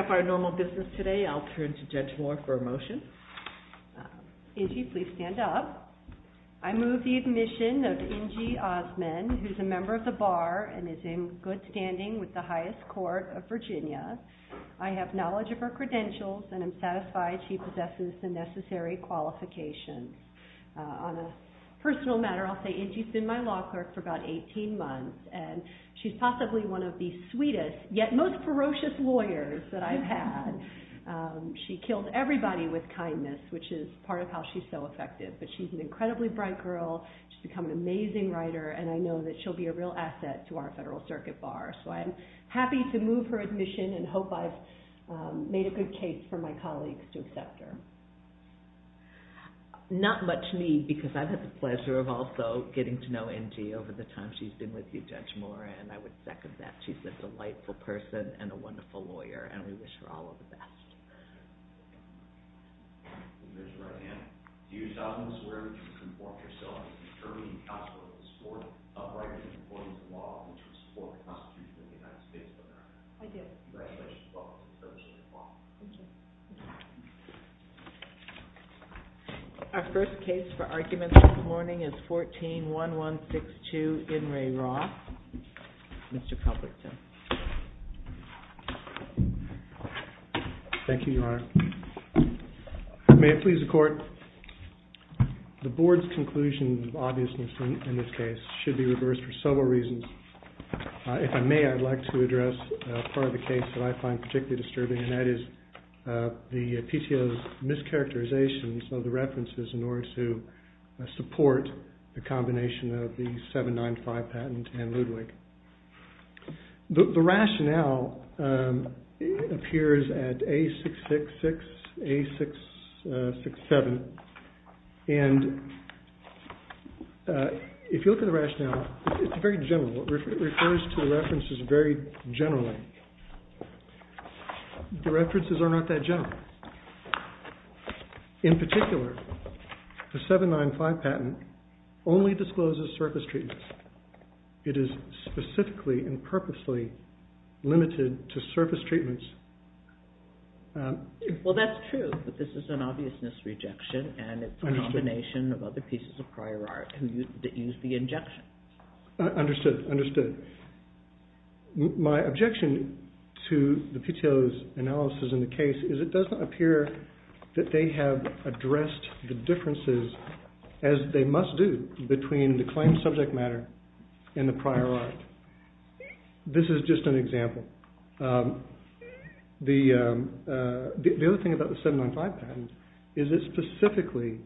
up our normal business today, I'll turn to Judge Moore for a motion. Ingie, please stand up. I move the admission of Ingie Osmond, who's a member of the Bar and is in good standing with the highest court of Virginia. I have knowledge of her credentials and am satisfied she possesses the necessary qualifications. On a personal matter, I'll say Ingie's been my law clerk for about 18 months and she's possibly one of the sweetest yet most ferocious lawyers that I've had. She killed everybody with kindness, which is part of how she's so effective, but she's an incredibly bright girl, she's become an amazing writer, and I know that she'll be a real asset to our Federal Circuit Bar. So I'm happy to move her admission and hope I've made a good case for my colleagues to accept her. Not much need because I've had the pleasure of also getting to know Ingie over the time she's been with you, Judge Moore, and I would second that. She's a delightful person and a wonderful lawyer, and we wish her all of the best. Our first case for argument this morning is 14-1162 Ingray Roth. Mr. Cumberton. Thank you, Your Honor. May it please the Court, the Board's conclusion of obviousness in this case should be reversed for several reasons. If I may, I'd like to address part of the case that I find particularly disturbing, and that is the PTO's mischaracterizations of the references in order to support the combination of the 795 patent and Ludwig. The rationale appears at A666-A667 and if you look at the rationale, it's very general. It refers to the references very generally. The references are not that general. In particular, the 795 patent only discloses surface treatments. It is specifically and purposely limited to surface treatments. Well, that's true, but this is an obviousness rejection, and it's a combination of other pieces of prior art that use the injection. Understood. My objection to the PTO's analysis in the case is it doesn't appear that they have addressed the differences as they must do between the claimed subject matter and the prior art. This is just an example. The other thing about the 795 patent is it specifically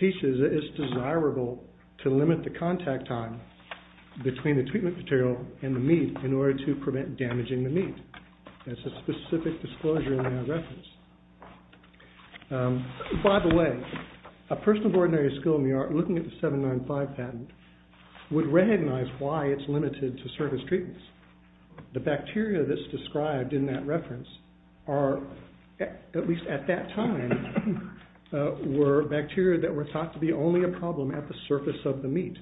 teaches that it's desirable to limit the contact time between the treatment material and the meat in order to prevent damaging the meat. That's a specific disclosure in that reference. By the way, a person of ordinary skill in the art looking at the 795 patent would recognize why it's limited to surface treatments. The bacteria that's described in that reference are at least at that time were bacteria that were thought to be only a problem at the surface of the meat.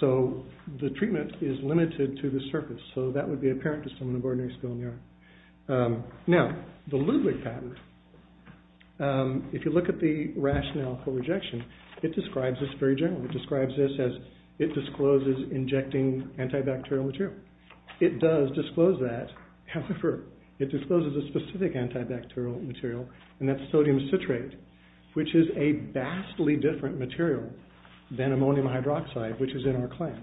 So the treatment is limited to the surface, so that would be apparent to someone of ordinary skill in the art. Now, the Ludwig patent, if you look at the rationale for rejection, it describes this very generally. It describes this as it discloses injecting antibacterial material. It does disclose that, however, it discloses a specific antibacterial material, and that's sodium citrate, which is a vastly different material than ammonium hydroxide, which is in our class.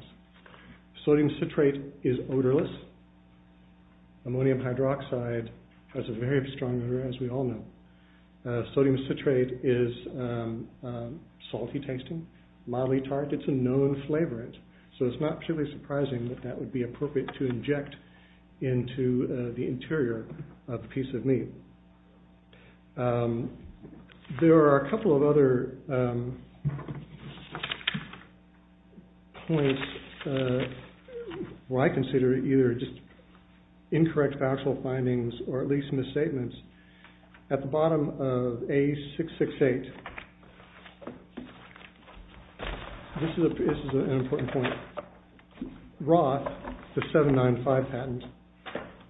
Sodium citrate is odorless. Ammonium hydroxide has a very strong odor, as we all know. Sodium citrate is salty tasting, mildly tart. It's a known flavorant, so it's not truly surprising that that would be appropriate to inject into the interior of a piece of meat. There are a couple of other points where I consider either just incorrect factual findings or at least misstatements. At the bottom of A668, this is an important point, Roth, the 795 patent,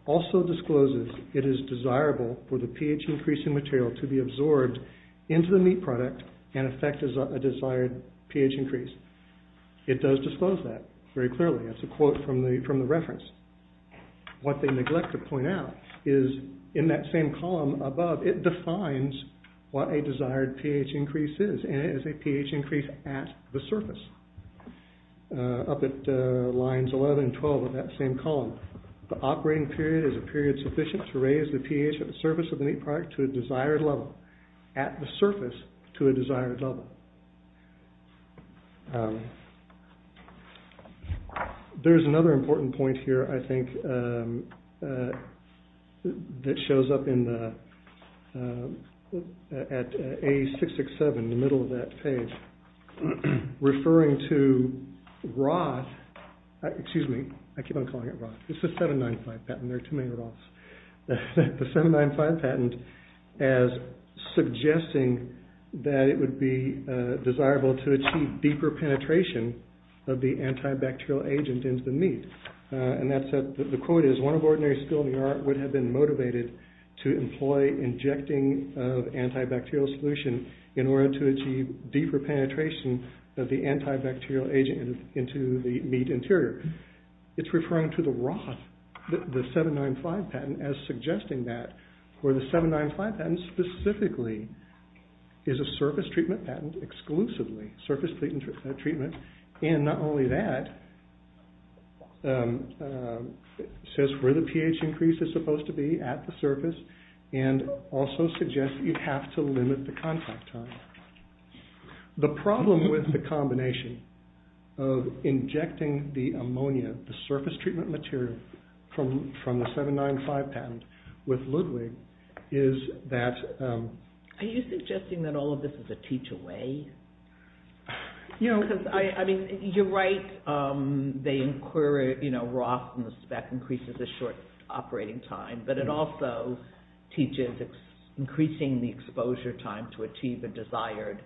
also discloses it is desirable for the pH increase in material to be absorbed into the meat product and affect a desired pH increase. It does disclose that very clearly. That's a quote from the reference. What they neglect to point out is in that same column above, it defines what a desired pH increase is, and it is a pH increase at the surface, up at lines 11 and 12 of that same column. The operating period is a period sufficient to raise the pH at the surface of the meat product to a desired level, at the surface to a desired level. There's another important point here, I think, that shows up at A667, in the middle of that page, referring to Roth, excuse me, I keep on calling it Roth, it's the 795 patent, there are too many Roths, the 795 patent as suggesting that it would be desirable to achieve deeper penetration of the antibacterial agent into the meat. The quote is, one of ordinary skill in the art would have been motivated to employ injecting of antibacterial solution in order to achieve deeper penetration of the antibacterial agent into the meat interior. It's referring to the Roth, the 795 patent, as suggesting that for the 795 patent specifically, is a surface treatment patent exclusively, surface treatment, and not only that, says where the pH increase is supposed to be at the surface, and also suggests you have to limit the contact time. The problem with the combination of injecting the ammonia, the surface treatment material, from the 795 patent with Ludwig, is that... Are you suggesting that all of this is a teach away? You're right, they inquire, you know, Roth increases the short operating time, but it also teaches increasing the exposure time to achieve the desired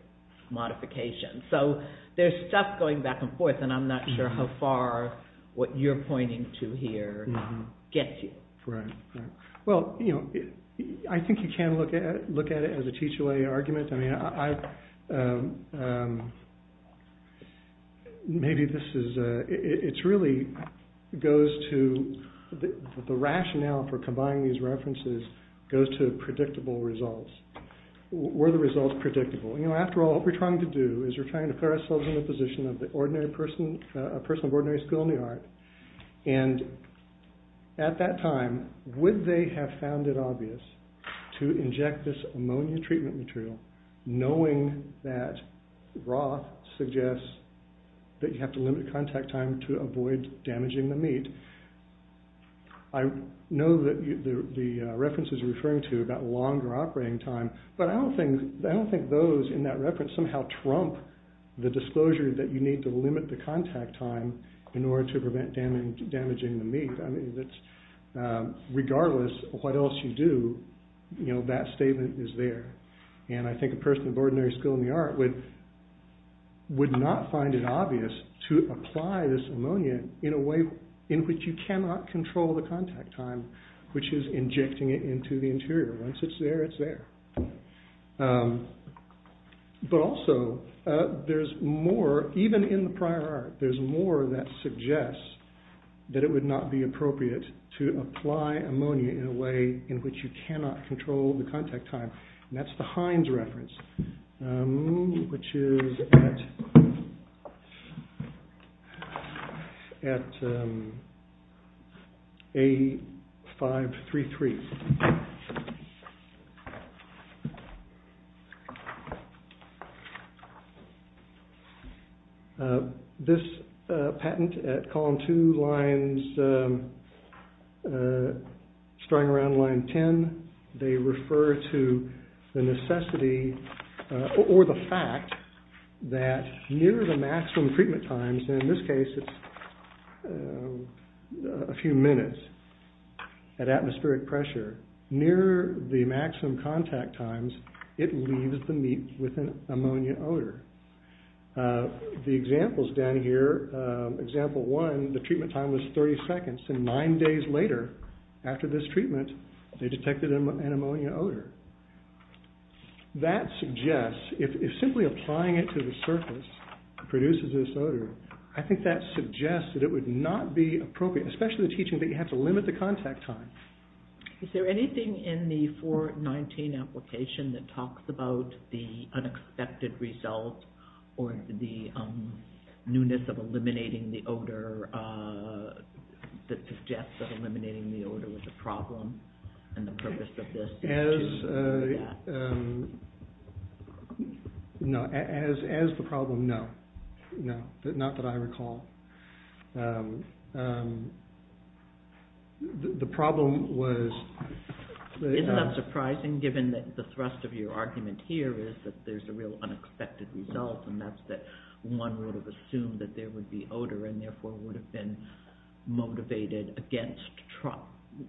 modification. So, there's stuff going back and forth, and I'm not sure how far what you're pointing to here gets you. I think you can look at it as a teach away argument. Maybe this is... It really goes to... The rationale for combining these references goes to predictable results. Were the results predictable? After all, what we're trying to do is we're trying to put ourselves in the position of a person of ordinary skill in the art, and at that time, would they have found it obvious to inject this ammonia treatment material knowing that Roth suggests that you have to limit contact time to avoid damaging the meat? I know that the references you're referring to about longer operating time, but I don't think those in that reference somehow trump the disclosure that you need to limit the treatment damaging the meat. Regardless of what else you do, that statement is there. And I think a person of ordinary skill in the art would not find it obvious to apply this ammonia in a way in which you cannot control the contact time, which is injecting it into the interior. Once it's there, it's there. But also, there's more, even in the prior art, there's more that suggests that it would not be appropriate to apply ammonia in a way in which you cannot control the contact time. And that's the Heinz reference, which is at A533. This patent at column 2 lines, starting around line 10, they refer to the necessity or the fact that near the maximum treatment times, and in this case it's a few minutes, at atmospheric pressure near the maximum contact times, it leaves the meat with an ammonia odor. The examples down here, example 1, the treatment time was 30 seconds and nine days later, after this treatment, they detected an ammonia odor. That suggests, if simply applying it to the surface produces this odor, I think that suggests that it would not be appropriate, especially the teaching that you have to limit the contact time. Is there anything in the 419 application that talks about the unexpected result or the newness of eliminating the odor that suggests that eliminating the odor was a problem and the purpose of this? No, as the problem, no. Not that I recall. The problem was Isn't that surprising given that the thrust of your argument here is that there's a real unexpected result and that's that one would have assumed that there would be odor and therefore would have been motivated against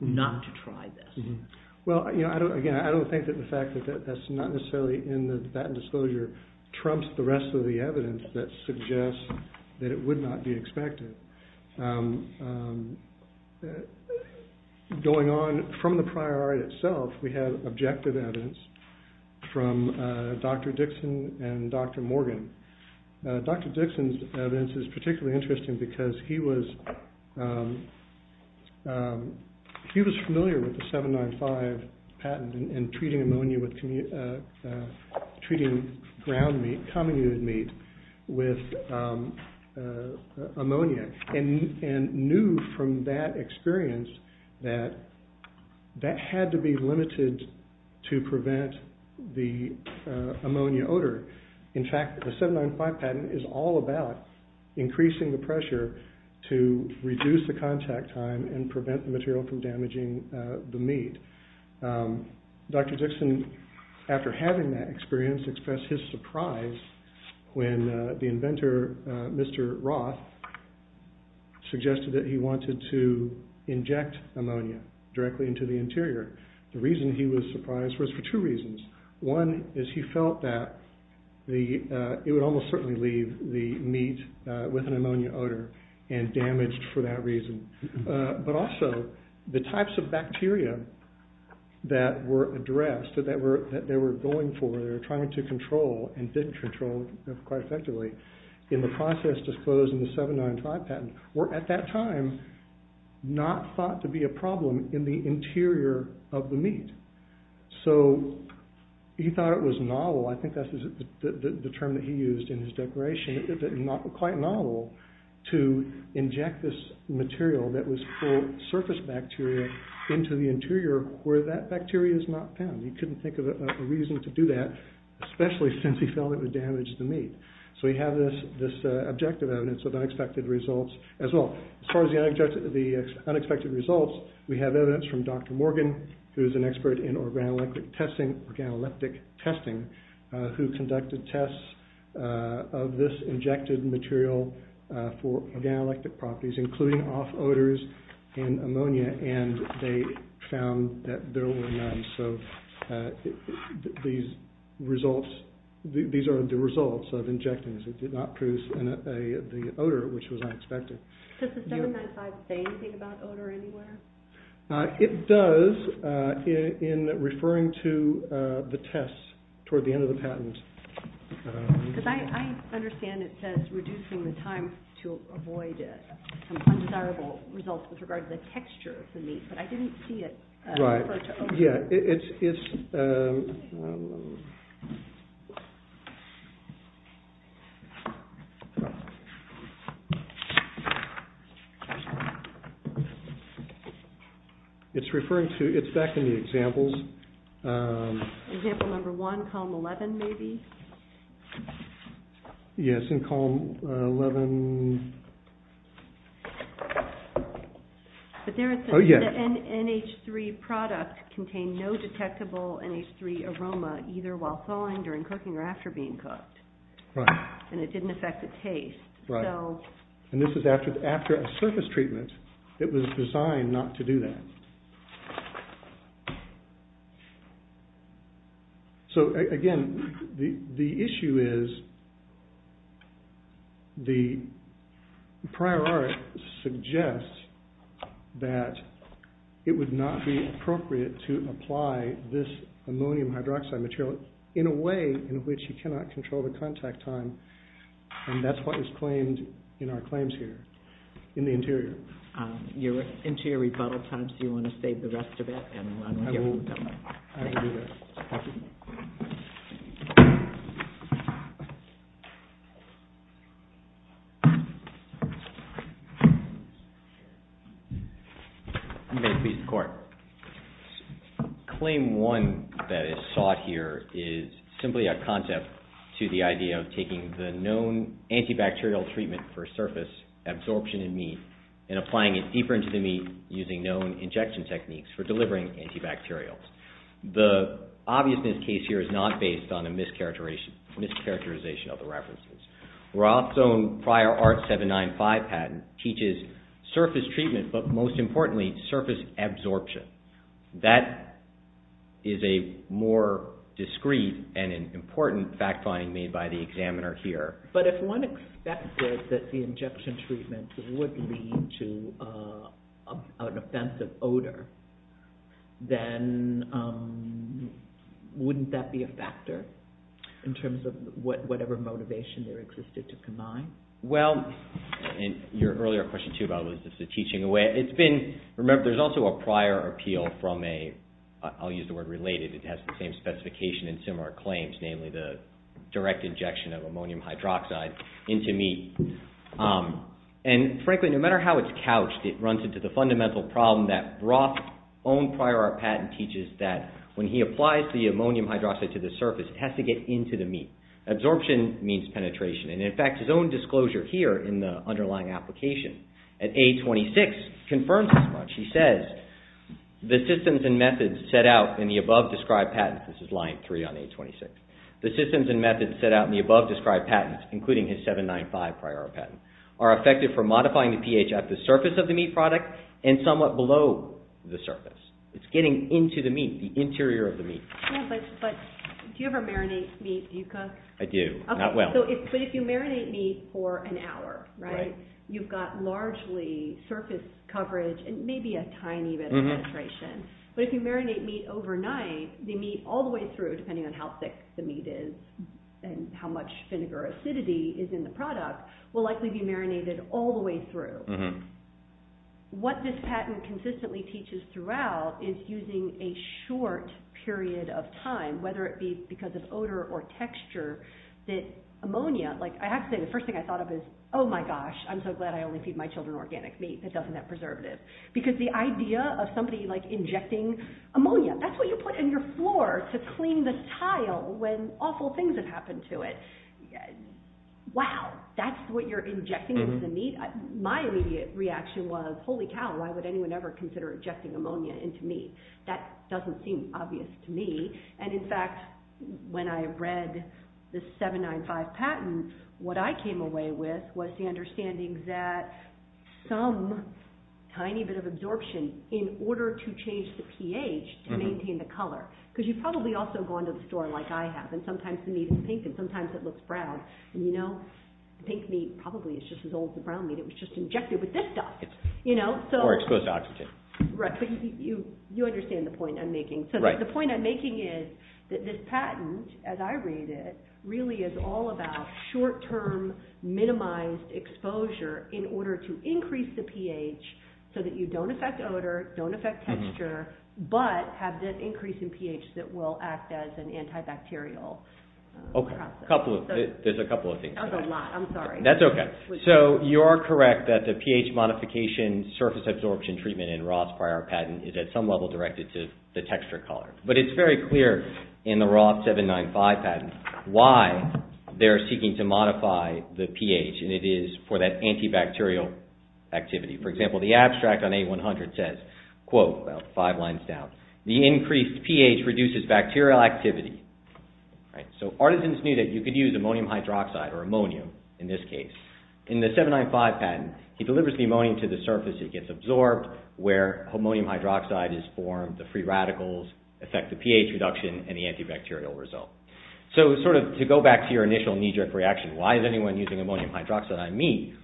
not to try this. Well, again, I don't think that the fact that that's not necessarily in the patent disclosure trumps the rest of the evidence that suggests that it would not be expected. Going on from the prior art itself, we have objective evidence from Dr. Dixon and Dr. Morgan. Dr. Dixon's evidence is particularly interesting because he was he was familiar with the 795 patent and treating ammonia with treating ground meat, comminuted meat, with ammonia and knew from that experience that that had to be limited to prevent the ammonia odor. In fact, the 795 patent is all about increasing the pressure to reduce the contact time and prevent the material from damaging the meat. Dr. Dixon, after having that experience, expressed his surprise when the inventor, Mr. Roth, suggested that he wanted to inject ammonia directly into the interior. The reason he was surprised was for two reasons. One is he felt that it would almost certainly leave the meat with an ammonia odor and damaged for that reason, but also the types of bacteria that were addressed, that they were going for, that they were trying to control and didn't control quite effectively in the process disclosed in the 795 patent, were at that time not thought to be a problem in the interior of the meat. So he thought it was novel, I think that's the term that he used in his declaration, quite novel to inject this material that was full of surface bacteria into the interior where that bacteria is not found. He couldn't think of a reason to do that, especially since he felt it would damage the meat. So we have this objective evidence of unexpected results as well. As far as the unexpected results, we have evidence from Dr. Morgan, who is an expert in organoleptic testing, who conducted tests of this injected material for organoleptic properties, including off odors and ammonia, and they found that there were none. So these results, these are the results of injecting this. It did not produce the odor, which was unexpected. Does the 795 say anything about odor anywhere? It does in referring to the tests toward the end of the patent. Because I understand it says reducing the time to avoid some undesirable results with regard to the texture of the meat, but I didn't see it refer to odor. It's back in the examples. Example number one, column 11 maybe. Yes, in column 11. But there is the NH3 product contained no detectable NH3 aroma either while thawing, during cooking, or after being cooked. And it didn't affect the taste. And this is after a surface treatment, it was designed not to do that. So again, the issue is the prior art suggests that it would not be appropriate to apply this ammonium hydroxide material in a way in which you cannot control the contact time, and that's what is claimed in our claims here, in the interior. Your interior rebuttal time, so you want to save the rest of it? I will do that. Thank you. You may please report. Claim one that is sought here is simply a concept to the idea of taking the known antibacterial treatment for surface absorption in meat and applying it deeper into the meat using known injection techniques for delivering antibacterials. The obviousness case here is not based on a mischaracterization of the references. Roth's own prior art 795 patent teaches surface treatment, but most importantly surface absorption. That is a more discreet and important fact finding made by the examiner here. But if one expected that the injection treatment would lead to an offensive odor, then wouldn't that be a factor in terms of whatever motivation there existed to combine? Well, your earlier question too, by the way, was just a teaching away. Remember, there's also a prior appeal from a I'll use the word related, it has the same specification in similar claims, namely the direct injection of ammonium hydroxide into meat. And frankly, no matter how it's couched, it runs into the fundamental problem that Roth's own prior art patent teaches that when he applies the ammonium hydroxide to the surface, it has to get into the meat. Absorption means penetration. And in fact, his own disclosure here in the underlying application at A26 confirms this much. He says the systems and methods set out in the above described patents, this is line 3 on A26, the systems and methods set out in the above described patents, including his 795 prior art patent, are effective for modifying the pH at the surface of the meat product and somewhat below the surface. It's getting into the meat, the interior of the meat. Do you ever marinate meat, Yuka? I do, not well. But if you marinate meat for an hour, you've got largely surface coverage and maybe a tiny bit of penetration. But if you marinate meat overnight, the meat all the way through, depending on how thick the meat is and how much vinegar acidity is in the product, will likely be marinated all the way through. What this patent consistently teaches throughout is using a short period of time, whether it be because of odor or texture, that ammonia, like I have to say, the first thing I thought of is, oh my gosh, I'm so glad I only feed my children organic meat that doesn't have preservatives. Because the idea of somebody injecting ammonia, that's what you put in your floor to clean the tile when awful things have happened to it. Wow, that's what you're injecting into the meat? My immediate reaction was, holy cow, why would anyone ever consider injecting ammonia into meat? That doesn't seem obvious to me. And in fact, when I read the 795 patent, what I came away with was the understanding that some tiny bit of absorption in order to change the pH to maintain the color. Because you've probably also gone to the store like I have, and sometimes the meat is pink and sometimes it looks brown. And you know, pink meat probably is just as old as the brown meat. It was just injected with this stuff. Or exposed to oxygen. Right, but you understand the point I'm making. So the point I'm making is that this patent, as I read it, really is all about short-term minimized exposure in order to increase the pH so that you don't affect the pH that will act as an antibacterial process. There's a couple of things. That's a lot, I'm sorry. That's okay. So you're correct that the pH modification surface absorption treatment in Roth's prior patent is at some level directed to the texture color. But it's very clear in the Roth 795 patent why they're seeking to modify the pH, and it is for that antibacterial activity. For example, the abstract on A100 says, quote, well, five lines down, the increased pH reduces bacterial activity. So Artisans knew that you could use ammonium hydroxide, or ammonium, in this case. In the 795 patent, he delivers the ammonium to the surface, it gets absorbed, where ammonium hydroxide is formed, the free radicals affect the pH reduction and the antibacterial result. So sort of to go back to your initial knee-jerk reaction, why is anyone using ammonium hydroxide on meat?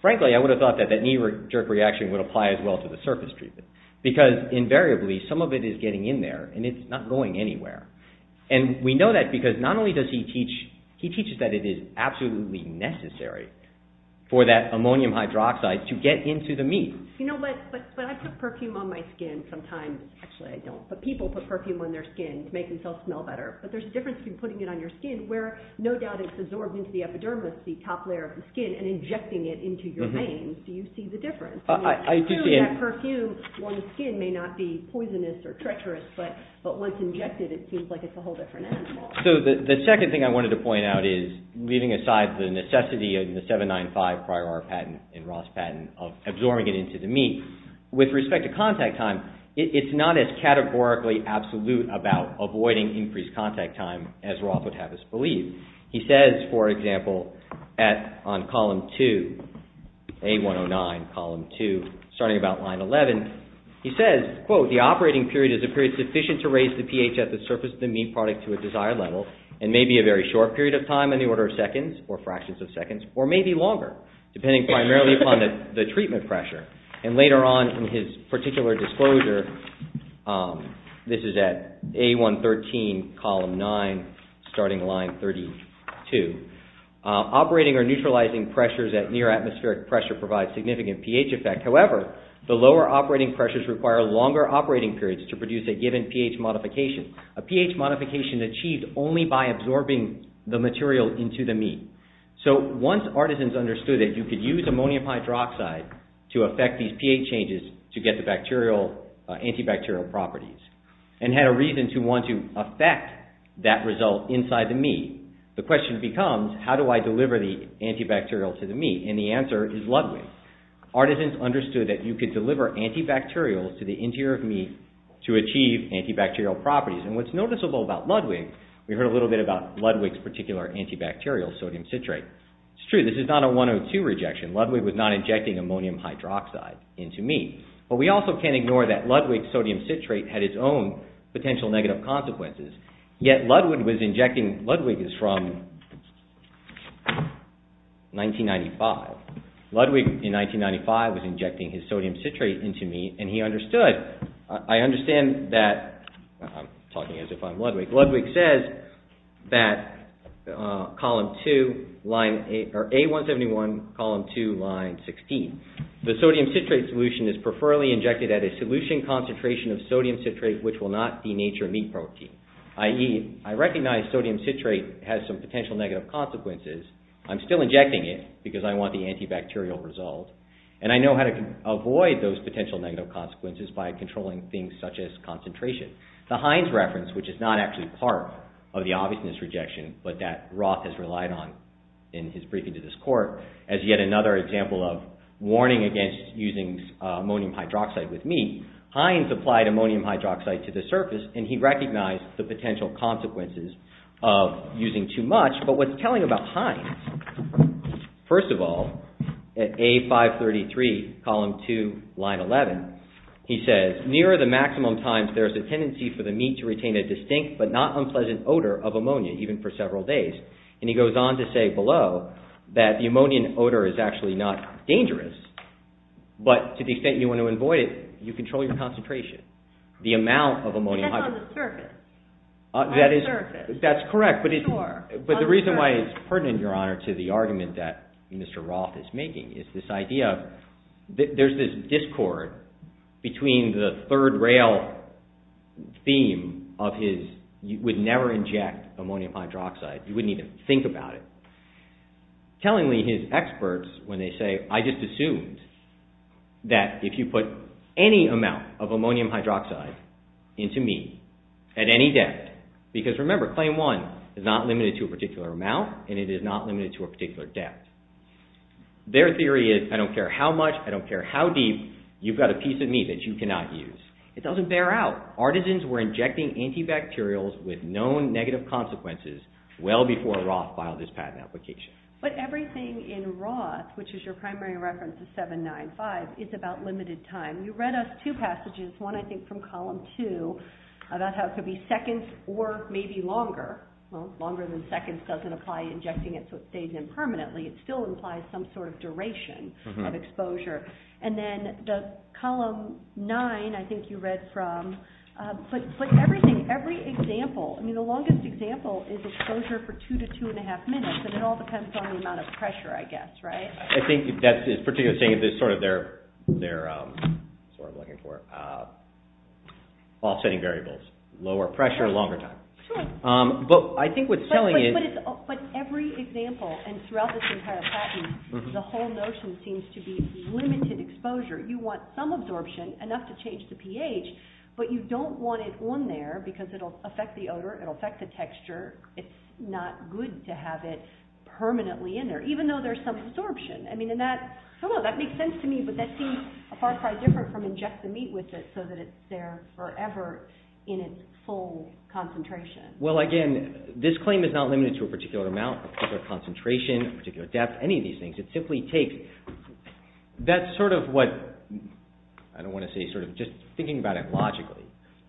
Frankly, I would have thought that that knee-jerk reaction would apply as well to the surface treatment. Because invariably, some of it is getting in there, and it's not going anywhere. And we know that because not only does he teach that it is absolutely necessary for that ammonium hydroxide to get into the meat. You know what, but I put perfume on my skin sometimes. Actually, I don't. But people put perfume on their skin to make themselves smell better. But there's a difference between putting it on your skin, where no doubt it's absorbed into the epidermis, the top layer of the skin, and injecting it into your veins. Do you see the difference? I mean, clearly that perfume on the skin may not be poisonous or treacherous, but once injected, it seems like it's a whole different animal. So the second thing I wanted to point out is, leaving aside the necessity of the 795 prior art patent and Roth's patent of absorbing it into the meat, with respect to contact time, it's not as categorically absolute about avoiding increased contact time as Roth would have us believe. He says, for example, on column 2, A109, column 2, starting about line 11, he says, quote, the operating period is a period sufficient to raise the pH at the surface of the meat product to a desired level, and may be a very short period of time in the order of seconds, or fractions of seconds, or may be longer, depending primarily upon the treatment pressure. And later on in his particular disclosure, this is at A113, column 9, starting line 32, operating or neutralizing pressures at near atmospheric pressure provides significant pH effect. However, the lower operating pressures require longer operating periods to produce a given pH modification. A pH modification achieved only by absorbing the material into the meat. So once artisans understood that you could use ammonium hydroxide to affect these pH changes to get the antibacterial properties and had a reason to want to affect that result inside the meat, the question becomes, how do I deliver the antibacterial to the meat? And the answer is Ludwig. Artisans understood that you could deliver antibacterial to the interior of meat to achieve antibacterial properties. And what's noticeable about Ludwig, we heard a little bit about Ludwig's particular antibacterial, sodium citrate. It's true, this is not a 102 rejection. Ludwig was not injecting ammonium hydroxide into meat. But we also can't ignore that Ludwig's sodium citrate had its own potential negative consequences. Yet Ludwig was injecting, Ludwig is from 1995. Ludwig in 1995 was injecting his sodium citrate into meat and he understood, I understand that, I'm talking as if I'm Ludwig, Ludwig says that column 2, line A171, column 2, line 16. The sodium citrate solution is preferably injected at a solution concentration of sodium citrate which will not denature meat protein. I.e., I recognize sodium citrate has some potential negative consequences. I'm still injecting it because I want the antibacterial result. And I know how to avoid those potential negative consequences by controlling things such as concentration. The Heinz reference, which is not actually part of the obviousness rejection, but that Roth has relied on in his briefing to this court, as yet another example of warning against using ammonium hydroxide with meat, Heinz applied ammonium hydroxide to the surface and he recognized the potential consequences of using too much. But what's telling about Heinz, first of all, at A533, column 2, line 11, he says, near the maximum times there's a tendency for the meat to retain a distinct but not unpleasant odor of ammonia, even for several days. And he goes on to say below that the ammonium odor is actually not dangerous, but to the extent you want to avoid it, you control your concentration. That's on the surface. That's correct. But the reason why it's pertinent, Your Honor, to the argument that Mr. Roth is making is this idea that there's this discord between the third rail theme of his, you would never inject ammonium hydroxide. You wouldn't even think about it. Tellingly, his experts, when they say I just assumed that if you put any amount of ammonium hydroxide into meat at any depth because, remember, claim one is not limited to a particular amount and it is not limited to a particular depth. Their theory is, I don't care how much, I don't care how deep, you've got a piece of meat that you cannot use. It doesn't bear out. Artisans were injecting antibacterials with known negative consequences well before Roth filed this patent application. But everything in Roth, which is your primary reference, the 795, is about limited time. You read us two passages, one I think from Column 2, about how it could be seconds or maybe longer. Well, longer than seconds doesn't apply injecting it so it stays in permanently. It still implies some sort of duration of exposure. And then the Column 9, I think you read from, but everything, every example, I mean the longest example is exposure for two to two and a half minutes and it all depends on the amount of pressure, I guess, right? I think that's particularly saying they're sort of looking for offsetting variables. Lower pressure, longer time. But I think what's telling is... But every example and throughout this entire patent, the whole notion seems to be limited exposure. You want some absorption, enough to change the pH, but you don't want it on there because it will affect the odor, it will affect the texture, it's not good to have it permanently in there, even though there's some absorption. And that, I don't know, that makes sense to me, but that seems far, far different from inject the meat with it so that it's there forever in its full concentration. Well, again, this claim is not limited to a particular amount, a particular concentration, a particular depth, any of these things. It simply takes... That's sort of what, I don't want to say sort of, just thinking about it logically.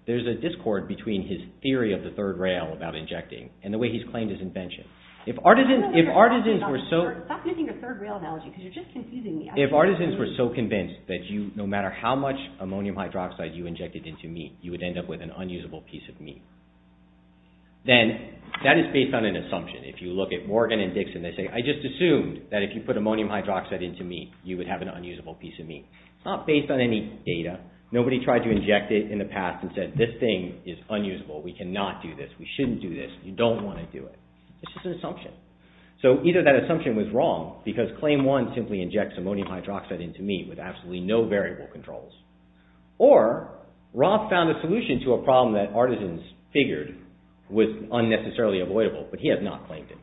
There's a discord between his claim and the way he's claimed his invention. If artisans were so convinced that no matter how much ammonium hydroxide you injected into meat, you would end up with an unusable piece of meat, then that is based on an assumption. If you look at Morgan and Dixon, they say, I just assumed that if you put ammonium hydroxide into meat, you would have an unusable piece of meat. It's not based on any data. Nobody tried to inject it in the past and said, this thing is unusable, we cannot do this, we shouldn't do this, you don't want to do it. It's just an assumption. So either that assumption was wrong, because claim one simply injects ammonium hydroxide into meat with absolutely no variable controls, or Roth found a solution to a problem that artisans figured was unnecessarily avoidable, but he has not claimed it.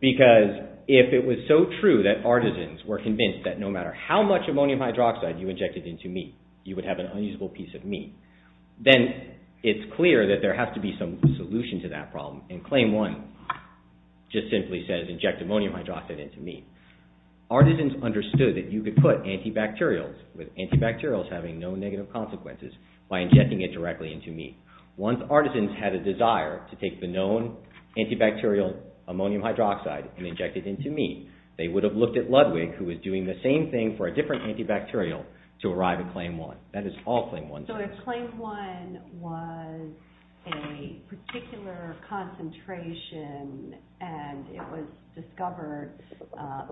Because if it was so true that artisans were convinced that no matter how much ammonium hydroxide you injected into meat, you would have an unusable piece of meat, then it's clear that there has to be some solution to that problem. And claim one just simply says inject ammonium hydroxide into meat. Artisans understood that you could put antibacterials with antibacterials having no negative consequences by injecting it directly into meat. Once artisans had a desire to take the known antibacterial ammonium hydroxide and inject it into meat, they would have looked at Ludwig who was doing the same thing for a different antibacterial to arrive at claim one. That is all claim one says. So if claim one was a particular concentration and it was discovered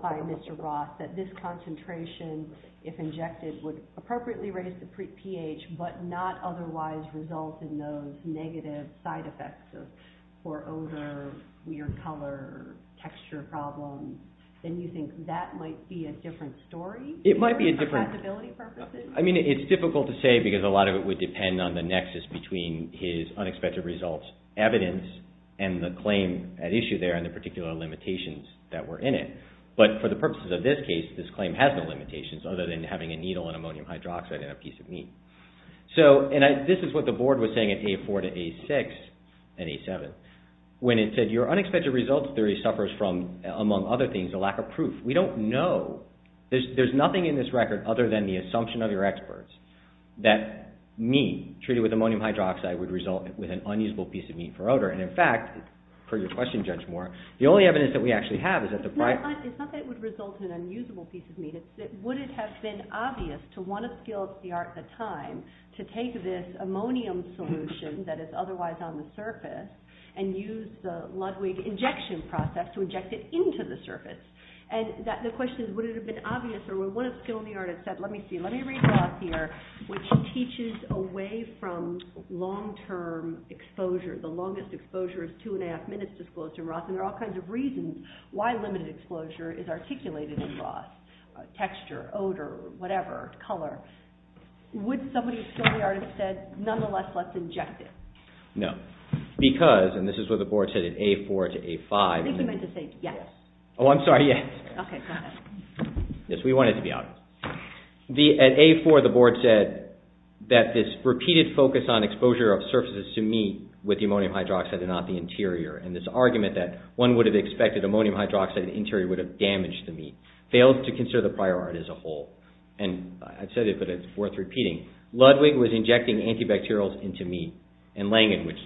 by Mr. Roth that this concentration if injected would appropriately raise the pH, but not otherwise result in those negative side effects for odor, weird color, texture problems, then you think that might be a different story? It might be a different I mean it's difficult to say because a lot of it would depend on the nexus between his unexpected results evidence and the claim at issue there and the particular limitations that were in it. But for the purposes of this case, this claim has no limitations other than having a needle in ammonium hydroxide in a piece of meat. This is what the board was saying at A4 to A6 and A7 when it said your unexpected results theory suffers from, among other things, a lack of proof. We don't know. There's nothing in this record other than the assumption of your experts that meat treated with ammonium hydroxide would result with an unusable piece of meat for odor. And in fact, per your question Judge Moore, the only evidence that we actually have is that the... It's not that it would result in an unusable piece of meat, it's that would it have been obvious to one of skilled CR at the time to take this ammonium solution that is otherwise on the surface and use the Ludwig injection process to inject it into the surface? And the question is, would it have been obvious or would one of skilled CRs have said, let me see, let me read Ross here, which teaches away from long-term exposure. The longest exposure is two and a half minutes disclosed in Ross. And there are all kinds of reasons why limited exposure is articulated in Ross. Texture, odor, whatever, color. Would somebody skilled CR have said, nonetheless, let's inject it? No. Because, and this is what the board said at A4 to A5... Oh, I'm sorry, yes. Yes, we want it to be obvious. At A4, the board said that this repeated focus on exposure of surfaces to meat with the ammonium hydroxide and not the interior, and this argument that one would have expected ammonium hydroxide and interior would have damaged the meat, failed to consider the prior art as a whole. And I've said it, but it's worth repeating. Ludwig was injecting antibacterials into meat, and Langan, which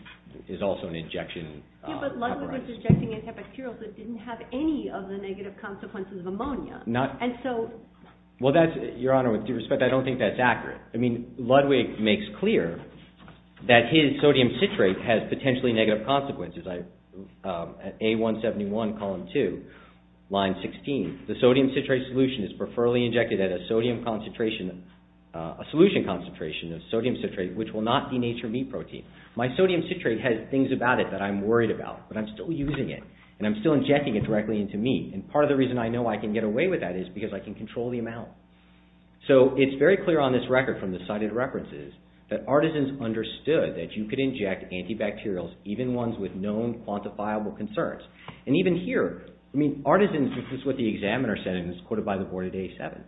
is also an injection... Yes, but Ludwig was injecting antibacterials that didn't have any of the negative consequences of ammonia. And so... Well, that's, Your Honor, with due respect, I don't think that's accurate. I mean, Ludwig makes clear that his sodium citrate has potentially negative consequences. At A171, column 2, line 16, the sodium citrate solution is preferably injected at a sodium concentration, a solution concentration of sodium citrate, which will not denature meat protein. My sodium citrate solution, I don't care about, but I'm still using it, and I'm still injecting it directly into meat. And part of the reason I know I can get away with that is because I can control the amount. So it's very clear on this record from the cited references that artisans understood that you could inject antibacterials, even ones with known quantifiable concerns. And even here, I mean, artisans, this is what the examiner said and it was quoted by the board at A7.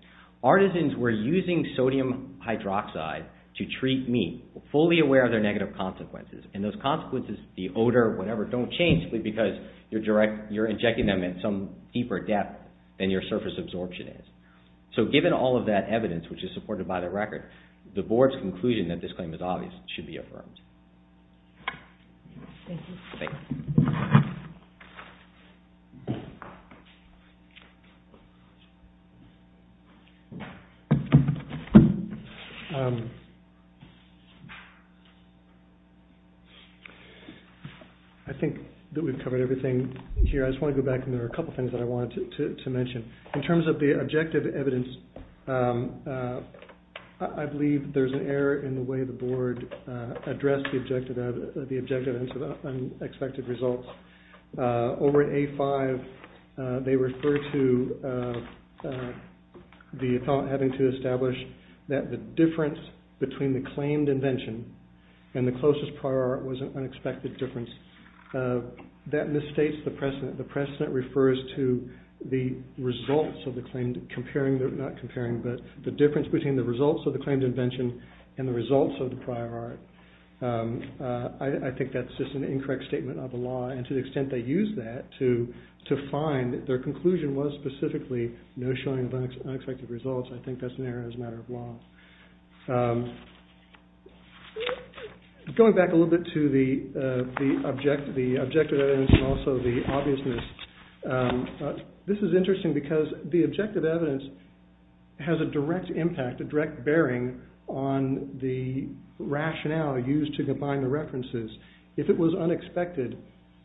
Artisans were using sodium hydroxide to treat meat, fully aware of their negative consequences. And those consequences, the odor, whatever, don't change simply because you're injecting them in some deeper depth than your surface absorption is. So given all of that evidence, which is supported by the record, the board's conclusion that this claim is obvious should be affirmed. Thank you. I think that we've covered everything here. I just want to go back and there are a couple things that I wanted to mention. In terms of the objective evidence, I believe there's an error in the way the board addressed the objective into the unexpected results. Over at A5, they refer to the thought having to establish that the difference between the claimed invention and the closest prior art was an unexpected difference. That misstates the precedent. The precedent refers to the results of the claimed, comparing, not comparing, but the difference between the results of the claimed invention and the results of the prior art. I think that's just an incorrect statement of the law and to the extent they use that to find that their conclusion was specifically no showing of unexpected results, I think that's an error as a matter of law. Going back a little bit to the objective evidence and also the obviousness, this is interesting because the objective evidence has a direct impact, a direct bearing on the rationale used to combine the references. If it was unexpected,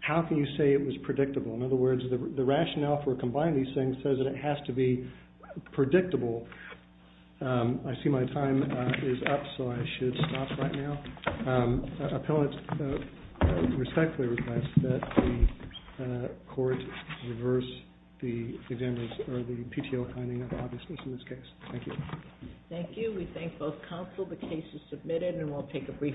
how can you say it was predictable? In other words, I see my time is up, so I should stop right now. I respectfully request that the court reverse the PTO finding of the obviousness in this case. Thank you. Thank you. We thank both counsel. The case is submitted and we'll take a brief recess. All rise.............